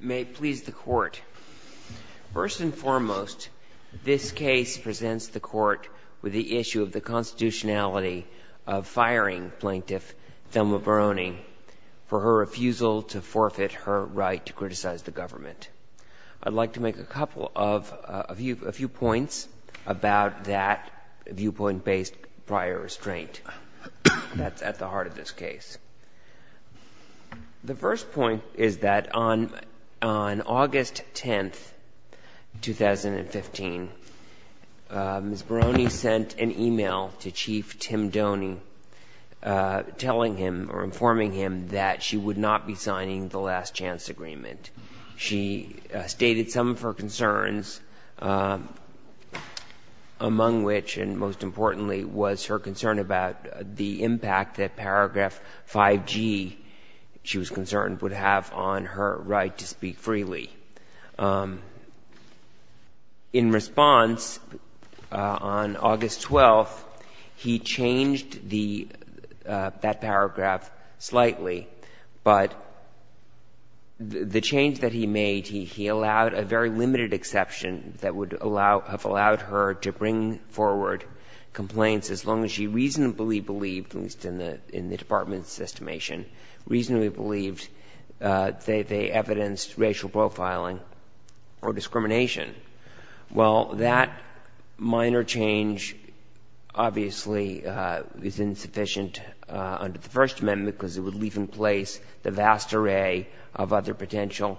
May it please the Court. First and foremost, this case presents the Court with the issue of the constitutionality of firing Plaintiff Thelma Barone for her refusal to forfeit her right to criticize the government. I'd like to make a few points about that viewpoint-based prior restraint that's at the heart of this case. The first point is that on August 10th, 2015, Ms. Barone sent an email to Chief Tim Doney telling him or informing him that she would not be signing the last chance agreement. She stated some of her concerns, among which and most importantly, was her concern about the impact that paragraph 5G, she was concerned, would have on her right to speak freely. In response, on August 12th, he changed that paragraph slightly, but the change that he made, he allowed a very limited exception that would allow, have allowed her to bring forward complaints as long as she reasonably believed, at least in the department's estimation, reasonably believed they evidenced racial profiling or discrimination. Well, that minor change obviously is insufficient under the First Amendment because it would leave in place the vast array of other potential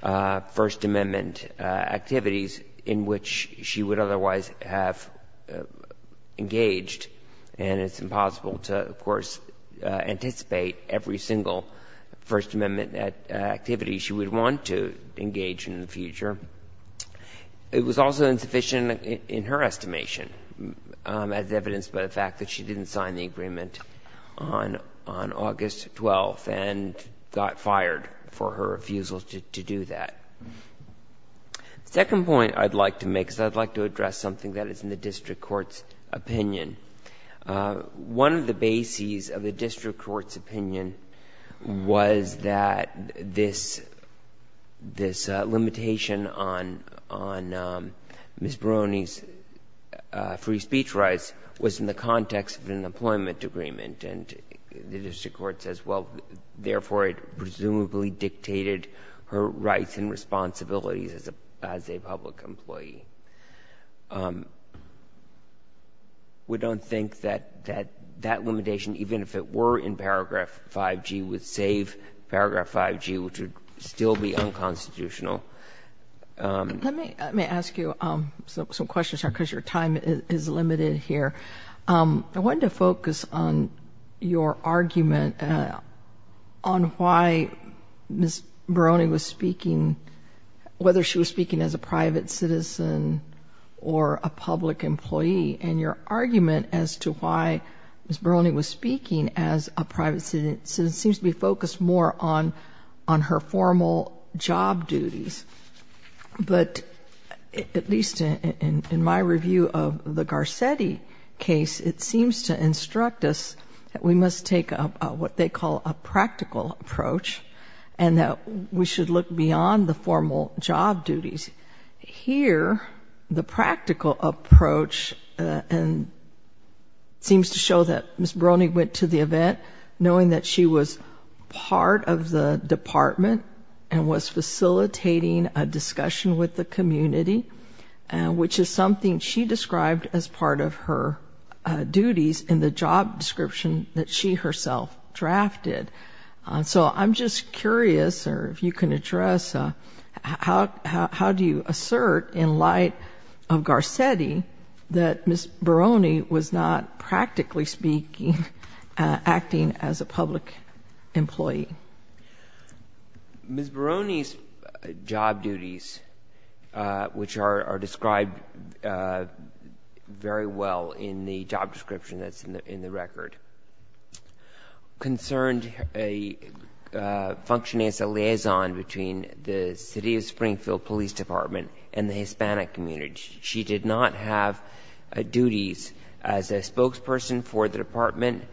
First Amendment activities in which she would otherwise have engaged, and it's impossible to, of course, anticipate every single First Amendment activity she would want to engage in the future. It was also insufficient in her estimation as evidenced by the fact that she didn't sign the agreement on August 12th and got fired for her refusal to do that. The second point I'd like to make is I'd like to address something that is in the district court's opinion. One of the bases of the district court's opinion was that this, this limitation on Ms. Brony's free speech rights was in the context of an employment agreement, and the responsibilities as a public employee. We don't think that that limitation, even if it were in paragraph 5G, would save paragraph 5G, which would still be unconstitutional. Let me ask you some questions here because your time is limited here. I wanted to focus on your argument on why Ms. Brony was speaking, whether she was speaking as a private citizen or a public employee, and your argument as to why Ms. Brony was speaking as a private citizen seems to be focused more on, on her formal job duties. But at least in my review of the Garcetti case, it seems to instruct us that we must take what they call a practical approach and that we should look beyond the formal job duties. Here, the practical approach and seems to show that Ms. Brony went to the event knowing that she was part of the department and was facilitating a discussion with the community, which is something she described as part of her duties in the job description that she herself drafted. So I'm just curious or if you can address how, how do you assert in light of Garcetti that Ms. Brony was not Ms. Brony's job duties, which are described very well in the job description that's in the record, concerned a function as a liaison between the City of Springfield Police Department and the Hispanic community. She did not have duties as a spokesperson for the department.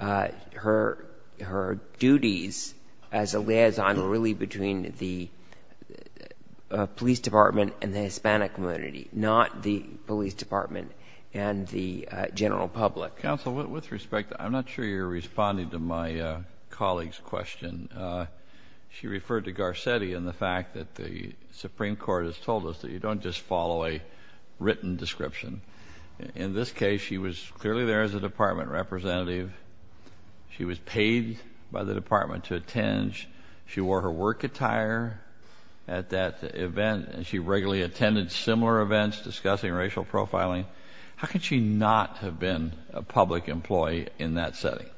Her, her duties as a liaison were really between the police department and the Hispanic community, not the police department and the general public. Counsel, with respect, I'm not sure you're responding to my colleague's question. She referred to Garcetti and the fact that the Supreme Court has told us that you don't just receive. She was paid by the department to attend. She wore her work attire at that event and she regularly attended similar events discussing racial profiling. How could she not have been a public employee in that setting?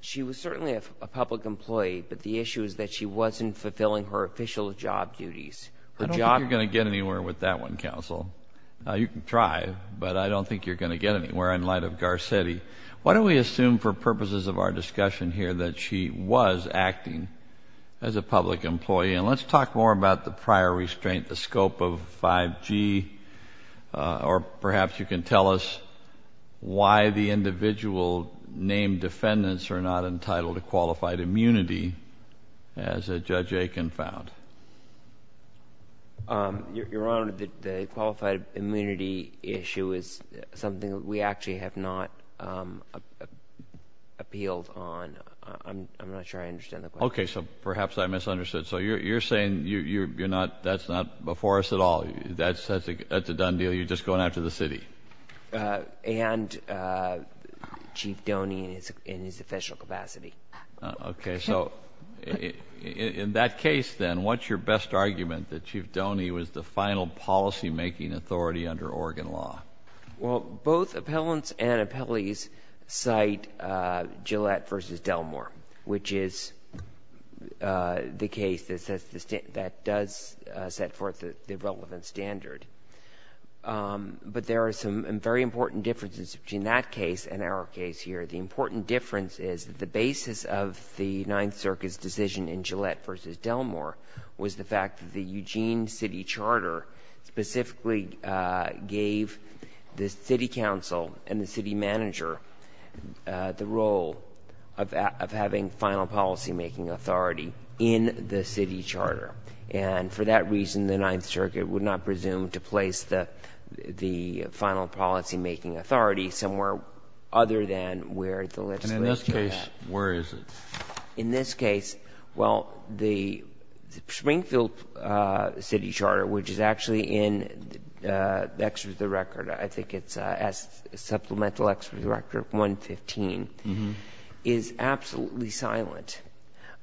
She was certainly a public employee, but the issue is that she wasn't fulfilling her official job duties. I don't think you're going to get anywhere with that one, Counsel. You can try, but I don't think you're going to get anywhere with that one. Let's talk a little bit more about the prior restraint of Garcetti. Why don't we assume for purposes of our discussion here that she was acting as a public employee, and let's talk more about the prior restraint, the scope of 5G, or perhaps you can tell us why the individual named defendants are not entitled to qualified immunity, as Judge Aiken found. Your Honor, the qualified immunity issue is something that we actually have not discussed or appealed on. I'm not sure I understand the question. Okay, so perhaps I misunderstood. So you're saying that's not before us at all? That's a done deal? You're just going after the city? And Chief Doney in his official capacity. Okay, so in that case, then, what's your best argument that Chief Doney was the final policy-making authority under Oregon law? Well, both appellants and appellees cite Gillette v. Delmore, which is the case that does set forth the relevant standard. But there are some very important differences between that case and our case here. The important difference is that the basis of the Ninth Circuit's decision in Gillette v. Delmore was the fact that the Eugene City Charter specifically gave the city council and the city manager the role of having final policy-making authority in the city charter. And for that reason, the Ninth Circuit would not presume to place the final policy-making authority somewhere other than where the legislature had. And in this case, where is it? In this case, well, the Springfield City Charter, which is actually in the record, I believe, I think it's Supplemental Executive Record 115, is absolutely silent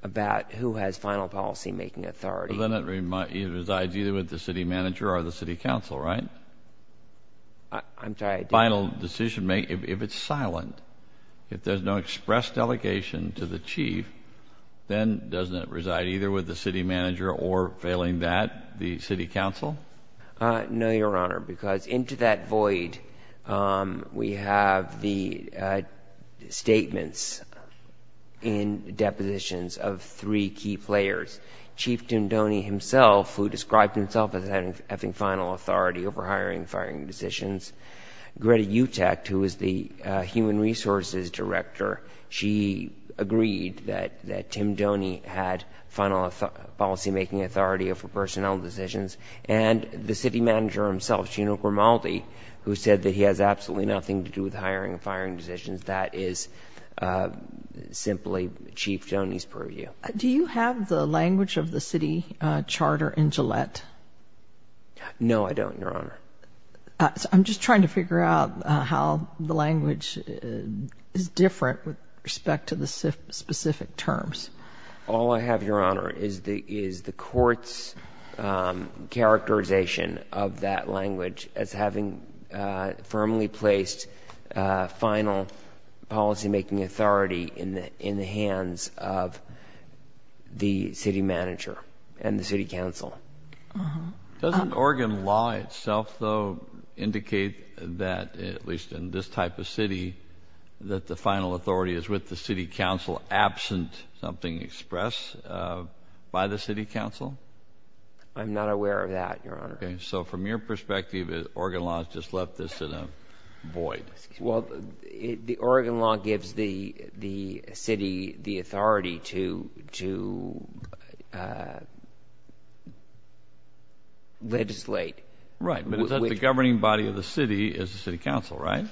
about who has final policy-making authority. But then it resides either with the city manager or the city council, right? I'm sorry, I didn't... Final decision-making, if it's silent, if there's no express delegation to the chief, then doesn't it reside either with the city manager or, failing that, the city council? No, Your Honor, because into that void, we have the statements in depositions of three key players. Chief Tindone himself, who described himself as having final authority over hiring and firing decisions. Greta Utecht, who was the human resources director, she agreed that Tindone had final policy-making authority over personnel decisions. And the city manager himself, Gino Grimaldi, who said that he has absolutely nothing to do with hiring and firing decisions, that is simply Chief Tindone's purview. Do you have the language of the city charter in Gillette? No, I don't, Your Honor. I'm just trying to figure out how the language is different with respect to the specific terms. All I have, Your Honor, is the court's characterization of that language as having firmly placed final policy-making authority in the hands of the city manager and the city council. Doesn't Oregon law itself, though, indicate that, at least in this type of city, that the final authority is with the city council, absent something expressed by the city council? I'm not aware of that, Your Honor. Okay, so from your perspective, Oregon law has just left this in a void. Well, the Oregon law gives the city the authority to legislate. Right, but it's that the governing body of the city is the city council, right?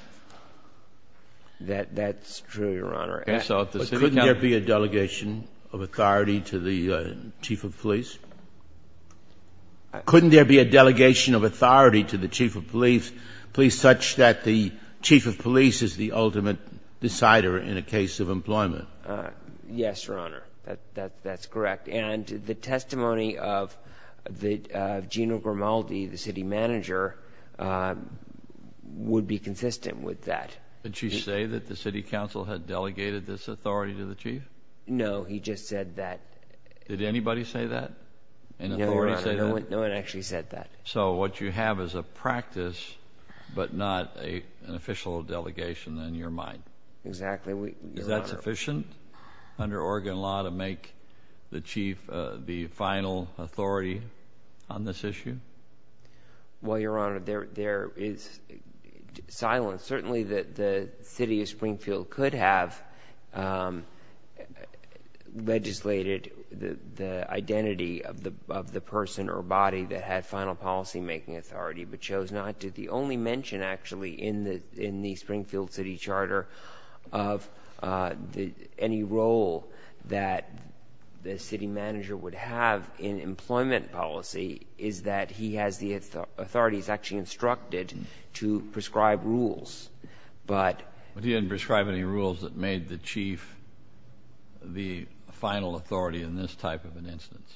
That's true, Your Honor. But couldn't there be a delegation of authority to the chief of police? Couldn't there be a delegation of authority to the chief of police, such that the chief of police is the ultimate decider in a case of employment? Yes, Your Honor, that's correct. And the testimony of Gina Grimaldi, the city manager, would be consistent with that. Did she say that the city council had delegated this authority to the chief? No, he just said that. Did anybody say that? No, Your Honor, no one actually said that. So what you have is a practice, but not an official delegation in your mind. Exactly, Your Honor. Is that sufficient under Oregon law to make the chief the final authority on this issue? Well, Your Honor, there is silence. Certainly, the city of Springfield could have legislated the identity of the person or body that had final policymaking authority, but chose not to. The only mention, actually, in the Springfield city charter of any role that the city manager would have in employment policy is that he has the authorities actually instructed to prescribe rules. But he didn't prescribe any rules that made the chief the final authority in this type of an instance.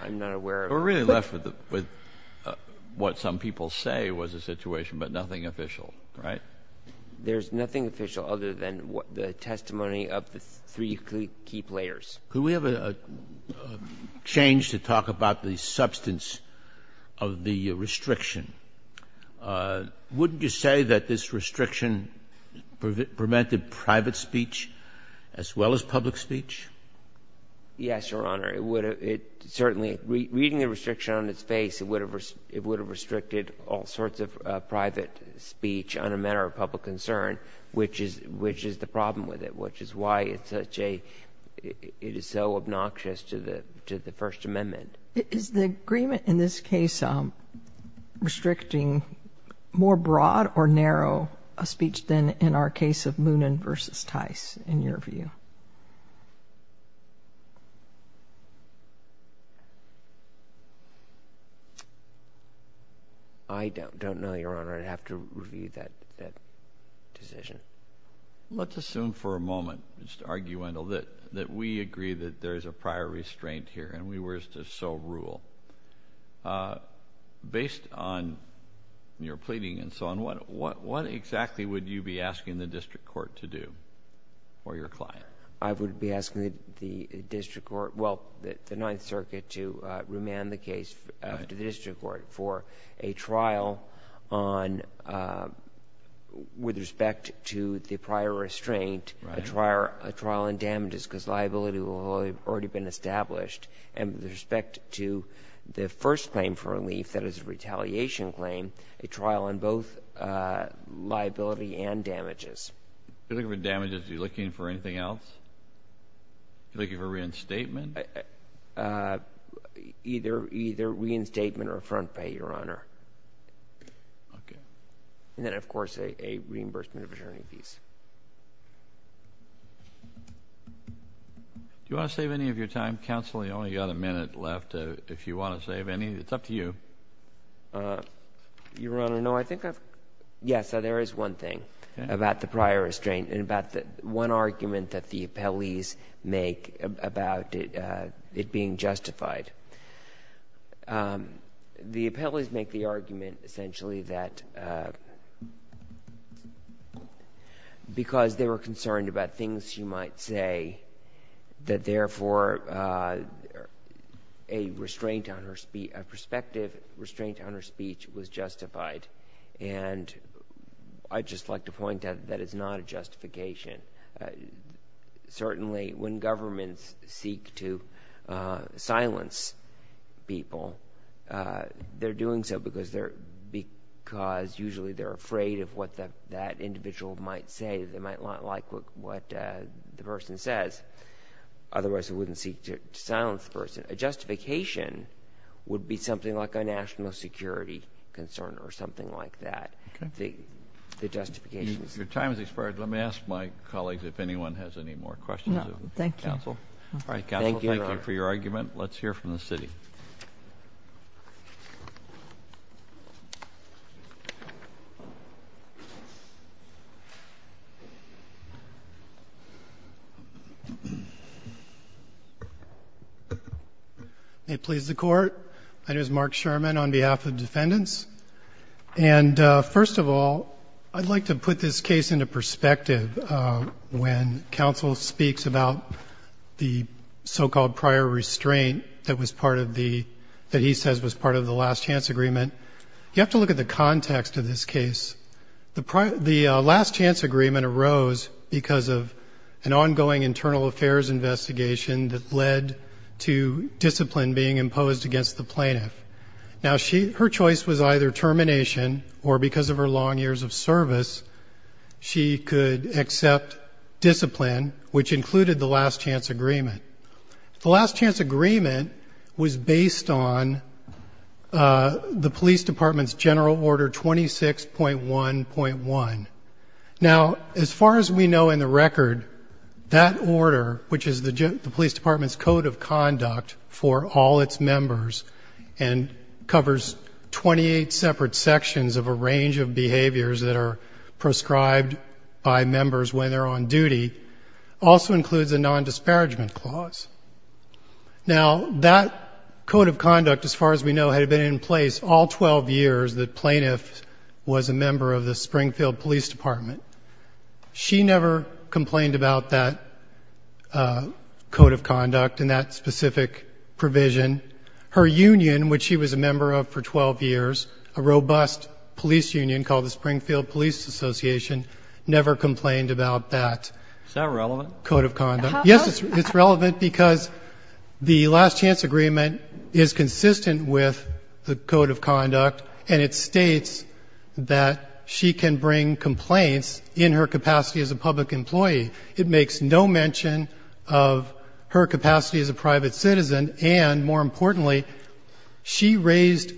I'm not aware of that. We're really left with what some people say was a situation, but nothing official, right? There's nothing official other than the testimony of the three key players. Could we have a change to talk about the substance of the restriction? Wouldn't you say that this restriction prevented private speech as well as public speech? Yes, Your Honor. Certainly, reading the restriction on its face, it would have restricted all sorts of private speech on a matter of public concern, which is the problem with it, which is why it is so obnoxious to the First Amendment. Is the agreement in this case restricting more broad or narrow speech than in our case of Moonen v. Tice, in your view? I don't know, Your Honor. I'd have to review that decision. Let's assume for a moment, just argumental, that we agree that there is a prior restraint here and we were to so rule. Based on your pleading and so on, what exactly would you be asking the district court to do or your client? I would be asking the district court, well, the Ninth Circuit, to remand the case to the district court for a trial on... with respect to the prior restraint, a trial on damages because liability will have already been established, and with respect to the first claim for relief, that is a retaliation claim, a trial on both liability and damages. If you're looking for damages, are you looking for anything else? Are you looking for reinstatement? Either reinstatement or a front pay, Your Honor. Okay. And then, of course, a reimbursement of attorney fees. Do you want to save any of your time, counsel? We've only got a minute left. If you want to save any, it's up to you. Your Honor, no, I think I've... Yeah, so there is one thing about the prior restraint and about the one argument that the appellees make about it being justified. The appellees make the argument, essentially, that because they were concerned about things she might say, that therefore a perspective restraint on her speech was justified. And I'd just like to point out that it's not a justification. Certainly, when governments seek to silence people, they're doing so because usually they're afraid of what that individual might say. They might not like what the person says. Otherwise, they wouldn't seek to silence the person. A justification would be something like a national security concern or something like that. Okay. The justification is... Your time has expired. Let me ask my colleagues if anyone has any more questions. No, thank you. Counsel, thank you for your argument. Let's hear from the city. May it please the Court? My name is Mark Sherman on behalf of defendants. And first of all, I'd like to put this case into perspective. When counsel speaks about the so-called prior restraint that was part of the... that he says was part of the last chance agreement, you have to look at the context of this case. The last chance agreement arose because of an ongoing internal affairs investigation that led to discipline being imposed against the plaintiff. Now, her choice was either termination or, because of her long years of service, she could accept discipline, which included the last chance agreement. The last chance agreement was based on the police department's general order 26.1.1. Now, as far as we know in the record, that order, which is the police department's code of conduct for all its members, and covers 28 separate sections of a range of behaviors that are prescribed by members when they're on duty, also includes a non-disparagement clause. Now, that code of conduct, as far as we know, had been in place all 12 years that plaintiff was a member of the Springfield Police Department. She never complained about that code of conduct and that specific provision. Her union, which she was a member of for 12 years, a robust police union called the Springfield Police Association, never complained about that code of conduct. Is that relevant? Yes, it's relevant because the last chance agreement is consistent with the code of conduct and it states that she can bring complaints in her capacity as a public employee. It makes no mention of her capacity as a private citizen, and more importantly she raised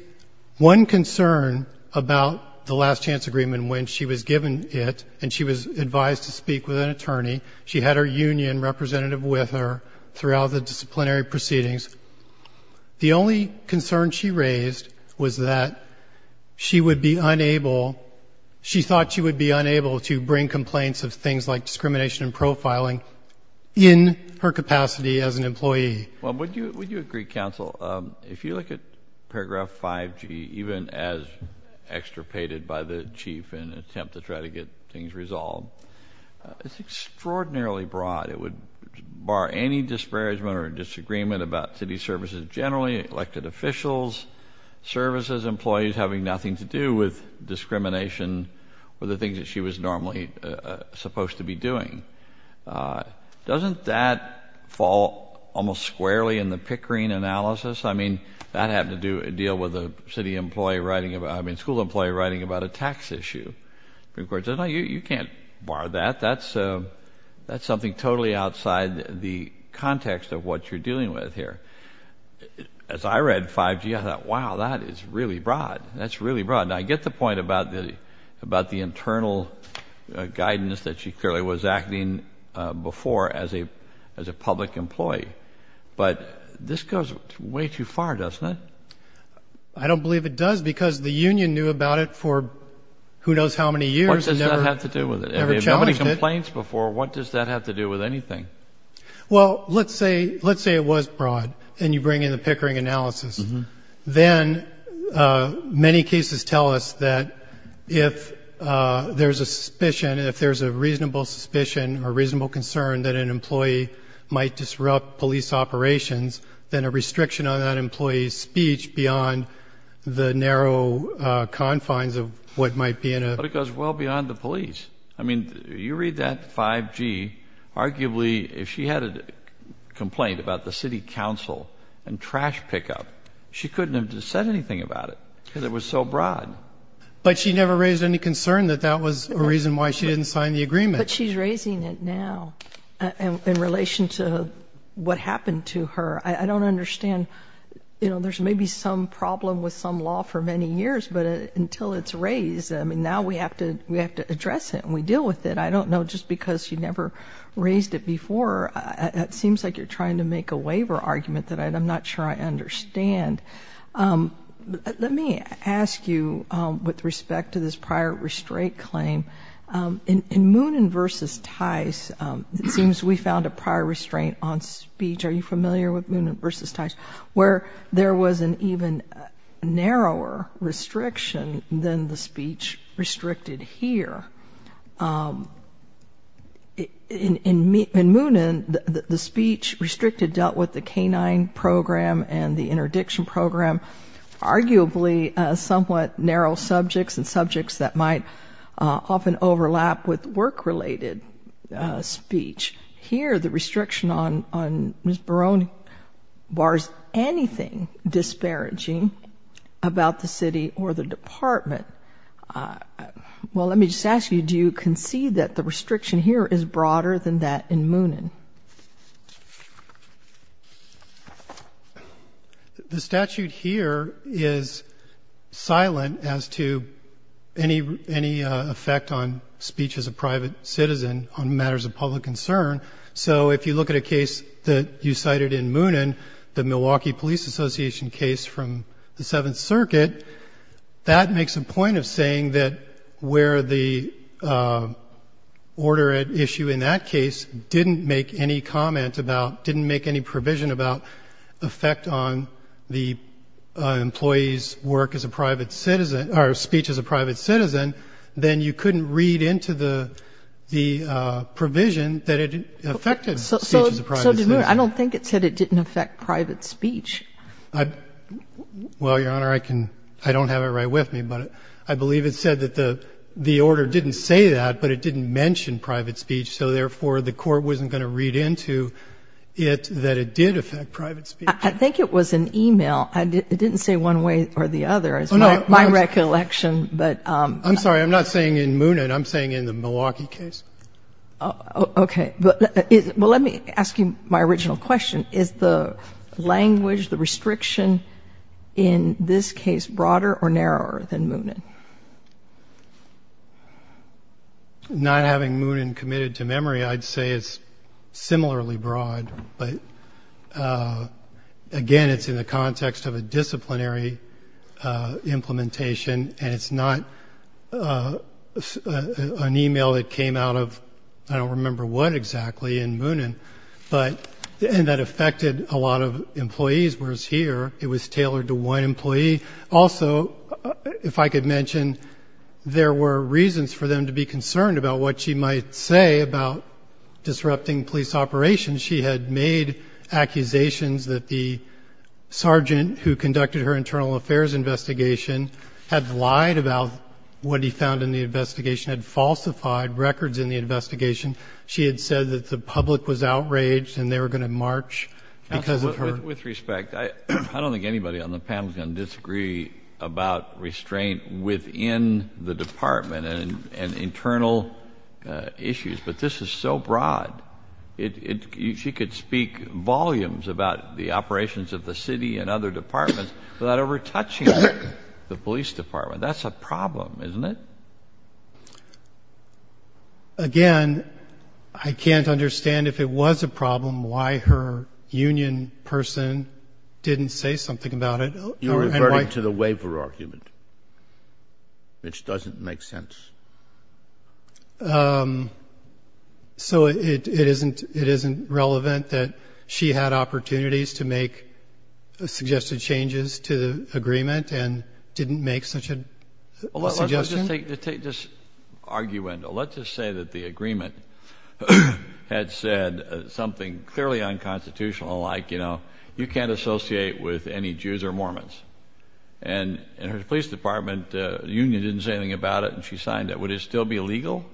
one concern about the last chance agreement when she was given it and she was advised to speak with an attorney. She had her union representative with her throughout the disciplinary proceedings. The only concern she raised was that she would be unable, she thought she would be unable to bring complaints of things like discrimination and profiling in her capacity as an employee. Would you agree, counsel, if you look at paragraph 5G, even as extirpated by the chief in an attempt to try to get things resolved, it's extraordinarily broad. It would bar any disparagement or disagreement about city services generally, elected officials, services employees having nothing to do with discrimination or the things that she was normally supposed to be doing. Doesn't that fall almost squarely in the Pickering analysis? I mean, that had to deal with a school employee writing about a tax issue. You can't bar that. That's something totally outside the context of what you're dealing with here. As I read 5G, I thought, wow, that is really broad. That's really broad. Now, I get the point about the internal guidance that she clearly was acting before as a public employee, but this goes way too far, doesn't it? I don't believe it does because the union knew about it for who knows how many years. What does that have to do with it? If nobody complains before, what does that have to do with anything? Well, let's say it was broad and you bring in the Pickering analysis. Then many cases tell us that if there's a suspicion, if there's a reasonable suspicion or reasonable concern that an employee might disrupt police operations, then a restriction on that employee's speech beyond the narrow confines of what might be in a ---- but it goes well beyond the police. I mean, you read that 5G, arguably if she had a complaint about the city council and trash pickup, she couldn't have said anything about it because it was so broad. But she never raised any concern that that was a reason why she didn't sign the agreement. But she's raising it now in relation to what happened to her. I don't understand. There's maybe some problem with some law for many years, but until it's raised, I mean, now we have to address it and we deal with it. I don't know just because she never raised it before, it seems like you're trying to make a waiver argument that I'm not sure I understand. Let me ask you with respect to this prior restraint claim. In Moonen v. Tice, it seems we found a prior restraint on speech. Are you familiar with Moonen v. Tice, where there was an even narrower restriction than the speech restricted here? In Moonen, the speech restricted dealt with the canine program and the interdiction program, arguably somewhat narrow subjects and subjects that might often overlap with work-related speech. Here, the restriction on Ms. Barone bars anything disparaging about the city or the department. Well, let me just ask you, do you concede that the restriction here is broader than that in Moonen? The statute here is silent as to any effect on speech as a private citizen on matters of public concern. So if you look at a case that you cited in Moonen, the Milwaukee Police Association case from the Seventh Circuit, that makes a point of saying that where the order at issue in that case didn't make any comment about, didn't make any provision about effect on the employee's work as a private citizen, or speech as a private citizen, then you couldn't read into the provision that it affected speech as a private citizen. I don't think it said it didn't affect private speech. Well, Your Honor, I don't have it right with me. But I believe it said that the order didn't say that, but it didn't mention private speech. So, therefore, the court wasn't going to read into it that it did affect private speech. I think it was an e-mail. It didn't say one way or the other, is my recollection. I'm sorry. I'm not saying in Moonen. I'm saying in the Milwaukee case. Okay. Well, let me ask you my original question. Is the language, the restriction in this case, broader or narrower than Moonen? Not having Moonen committed to memory, I'd say it's similarly broad. But, again, it's in the context of a disciplinary implementation, and it's not an e-mail that came out of I don't remember what exactly in Moonen, and that affected a lot of employees, whereas here it was tailored to one employee. Also, if I could mention, there were reasons for them to be concerned about what she might say about disrupting police operations. She had made accusations that the sergeant who conducted her internal affairs investigation had lied about what he found in the investigation, had falsified records in the investigation. She had said that the public was outraged and they were going to march because of her. With respect, I don't think anybody on the panel is going to disagree about restraint within the department and internal issues, but this is so broad. She could speak volumes about the operations of the city and other departments without ever touching the police department. That's a problem, isn't it? Again, I can't understand if it was a problem why her union person didn't say something about it. You're referring to the waiver argument, which doesn't make sense. So it isn't relevant that she had opportunities to make suggested changes to the agreement and didn't make such a suggestion? Let's just argue, Wendell. Let's just say that the agreement had said something clearly unconstitutional like, you know, you can't associate with any Jews or Mormons. And in her police department, the union didn't say anything about it and she signed it. Would it still be legal?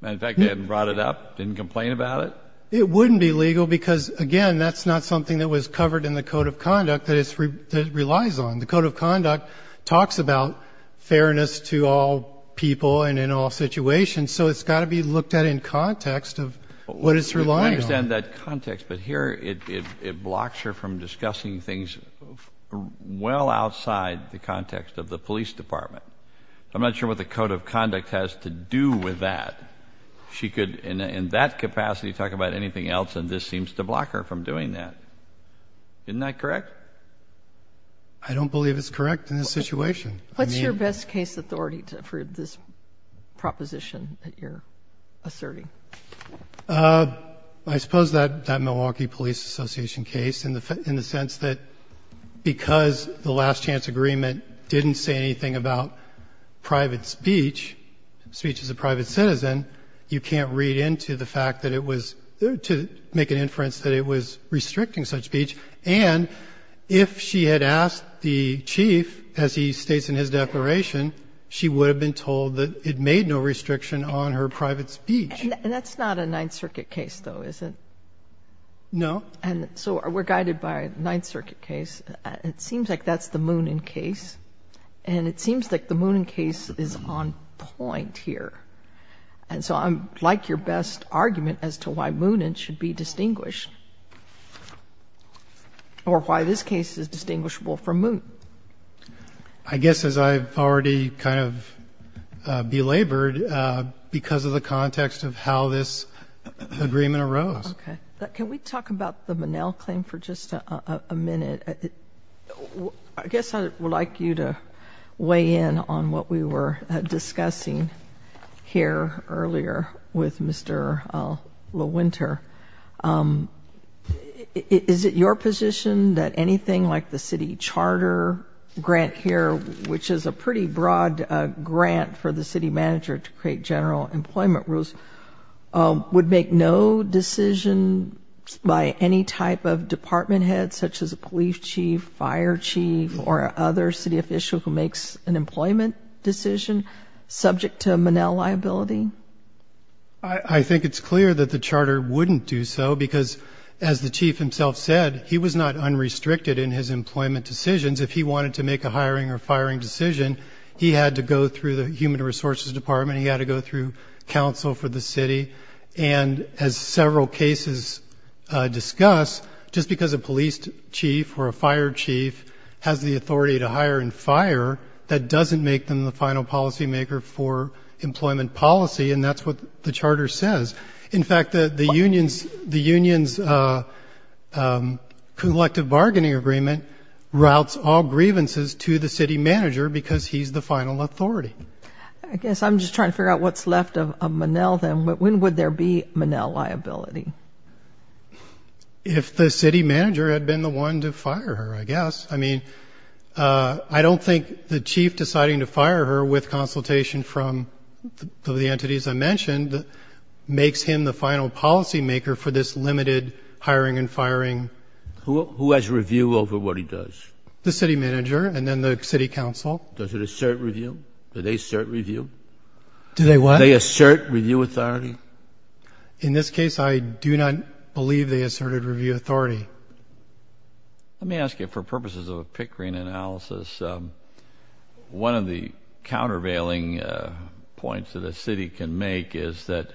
Matter of fact, they hadn't brought it up, didn't complain about it? It wouldn't be legal because, again, that's not something that was covered in the Code of Conduct that it relies on. The Code of Conduct talks about fairness to all people and in all situations, so it's got to be looked at in context of what it's relying on. I understand that context, but here it blocks her from discussing things well outside the context of the police department. I'm not sure what the Code of Conduct has to do with that. She could, in that capacity, talk about anything else, and this seems to block her from doing that. Isn't that correct? I don't believe it's correct in this situation. What's your best case authority for this proposition that you're asserting? I suppose that Milwaukee Police Association case in the sense that because the last chance agreement didn't say anything about private speech, speech as a private citizen, you can't read into the fact that it was to make an inference that it was restricting such speech. And if she had asked the chief, as he states in his declaration, she would have been told that it made no restriction on her private speech. And that's not a Ninth Circuit case, though, is it? No. And so we're guided by a Ninth Circuit case. It seems like that's the Moonan case, and it seems like the Moonan case is on point here. And so I'd like your best argument as to why Moonan should be distinguished or why this case is distinguishable from Moonan. I guess, as I've already kind of belabored, because of the context of how this agreement arose. Okay. Can we talk about the Monell claim for just a minute? I guess I would like you to weigh in on what we were discussing here earlier with Mr. LaWinter. Is it your position that anything like the city charter grant here, which is a pretty broad grant for the city manager to create general employment rules, would make no decision by any type of department head, such as a police chief, fire chief, or other city official who makes an employment decision subject to Monell liability? I think it's clear that the charter wouldn't do so because, as the chief himself said, he was not unrestricted in his employment decisions. If he wanted to make a hiring or firing decision, he had to go through the human resources department, he had to go through counsel for the city. And as several cases discuss, just because a police chief or a fire chief has the authority to hire and fire, that doesn't make them the final policymaker for employment policy, and that's what the charter says. In fact, the union's collective bargaining agreement routes all grievances to the city manager because he's the final authority. I guess I'm just trying to figure out what's left of Monell then. When would there be Monell liability? If the city manager had been the one to fire her, I guess. I mean, I don't think the chief deciding to fire her with consultation from the entities I mentioned makes him the final policymaker for this limited hiring and firing. Who has review over what he does? The city manager and then the city council. Does it assert review? Do they assert review? Do they what? Do they assert review authority? In this case, I do not believe they asserted review authority. Let me ask you, for purposes of a Pickering analysis, one of the countervailing points that a city can make is that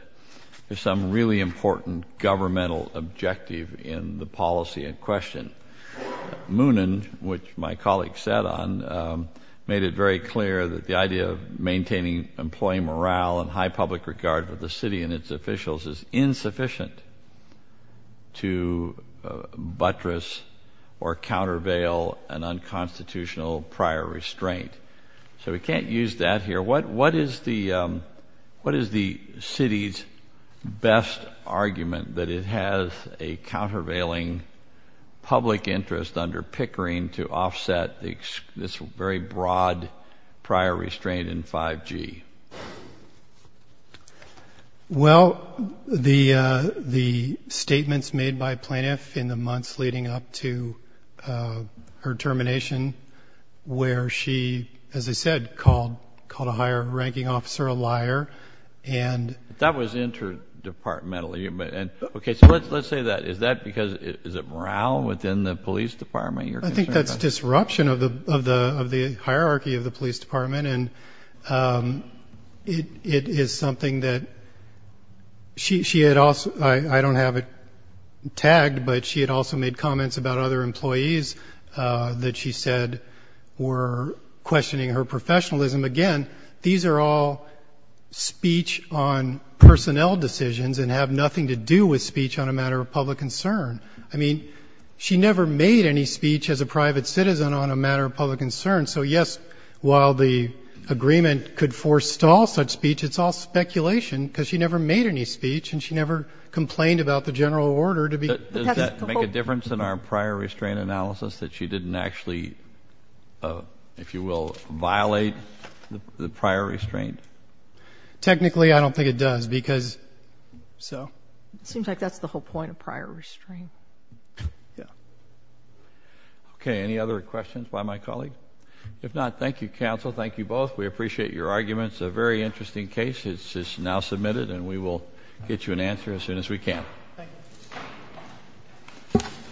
there's some really important governmental objective in the policy in question. Moonen, which my colleague sat on, made it very clear that the idea of maintaining employee morale and high public regard for the city and its officials is insufficient to buttress or countervail an unconstitutional prior restraint. So we can't use that here. What is the city's best argument that it has a countervailing public interest under Pickering to offset this very broad prior restraint in 5G? Well, the statements made by Plaintiff in the months leading up to her termination, where she, as I said, called a higher ranking officer a liar. That was interdepartmentally. Okay, so let's say that. Is that because is it morale within the police department you're concerned about? I think that's disruption of the hierarchy of the police department. It is something that she had also, I don't have it tagged, but she had also made comments about other employees that she said were questioning her professionalism. Again, these are all speech on personnel decisions and have nothing to do with speech on a matter of public concern. I mean, she never made any speech as a private citizen on a matter of public concern. So, yes, while the agreement could forestall such speech, it's all speculation because she never made any speech and she never complained about the general order to be. Does that make a difference in our prior restraint analysis that she didn't actually, if you will, violate the prior restraint? Technically, I don't think it does because so. It seems like that's the whole point of prior restraint. Yeah. Okay, any other questions by my colleague? If not, thank you, counsel. Thank you both. We appreciate your arguments. It's a very interesting case. It's now submitted and we will get you an answer as soon as we can. Thank you.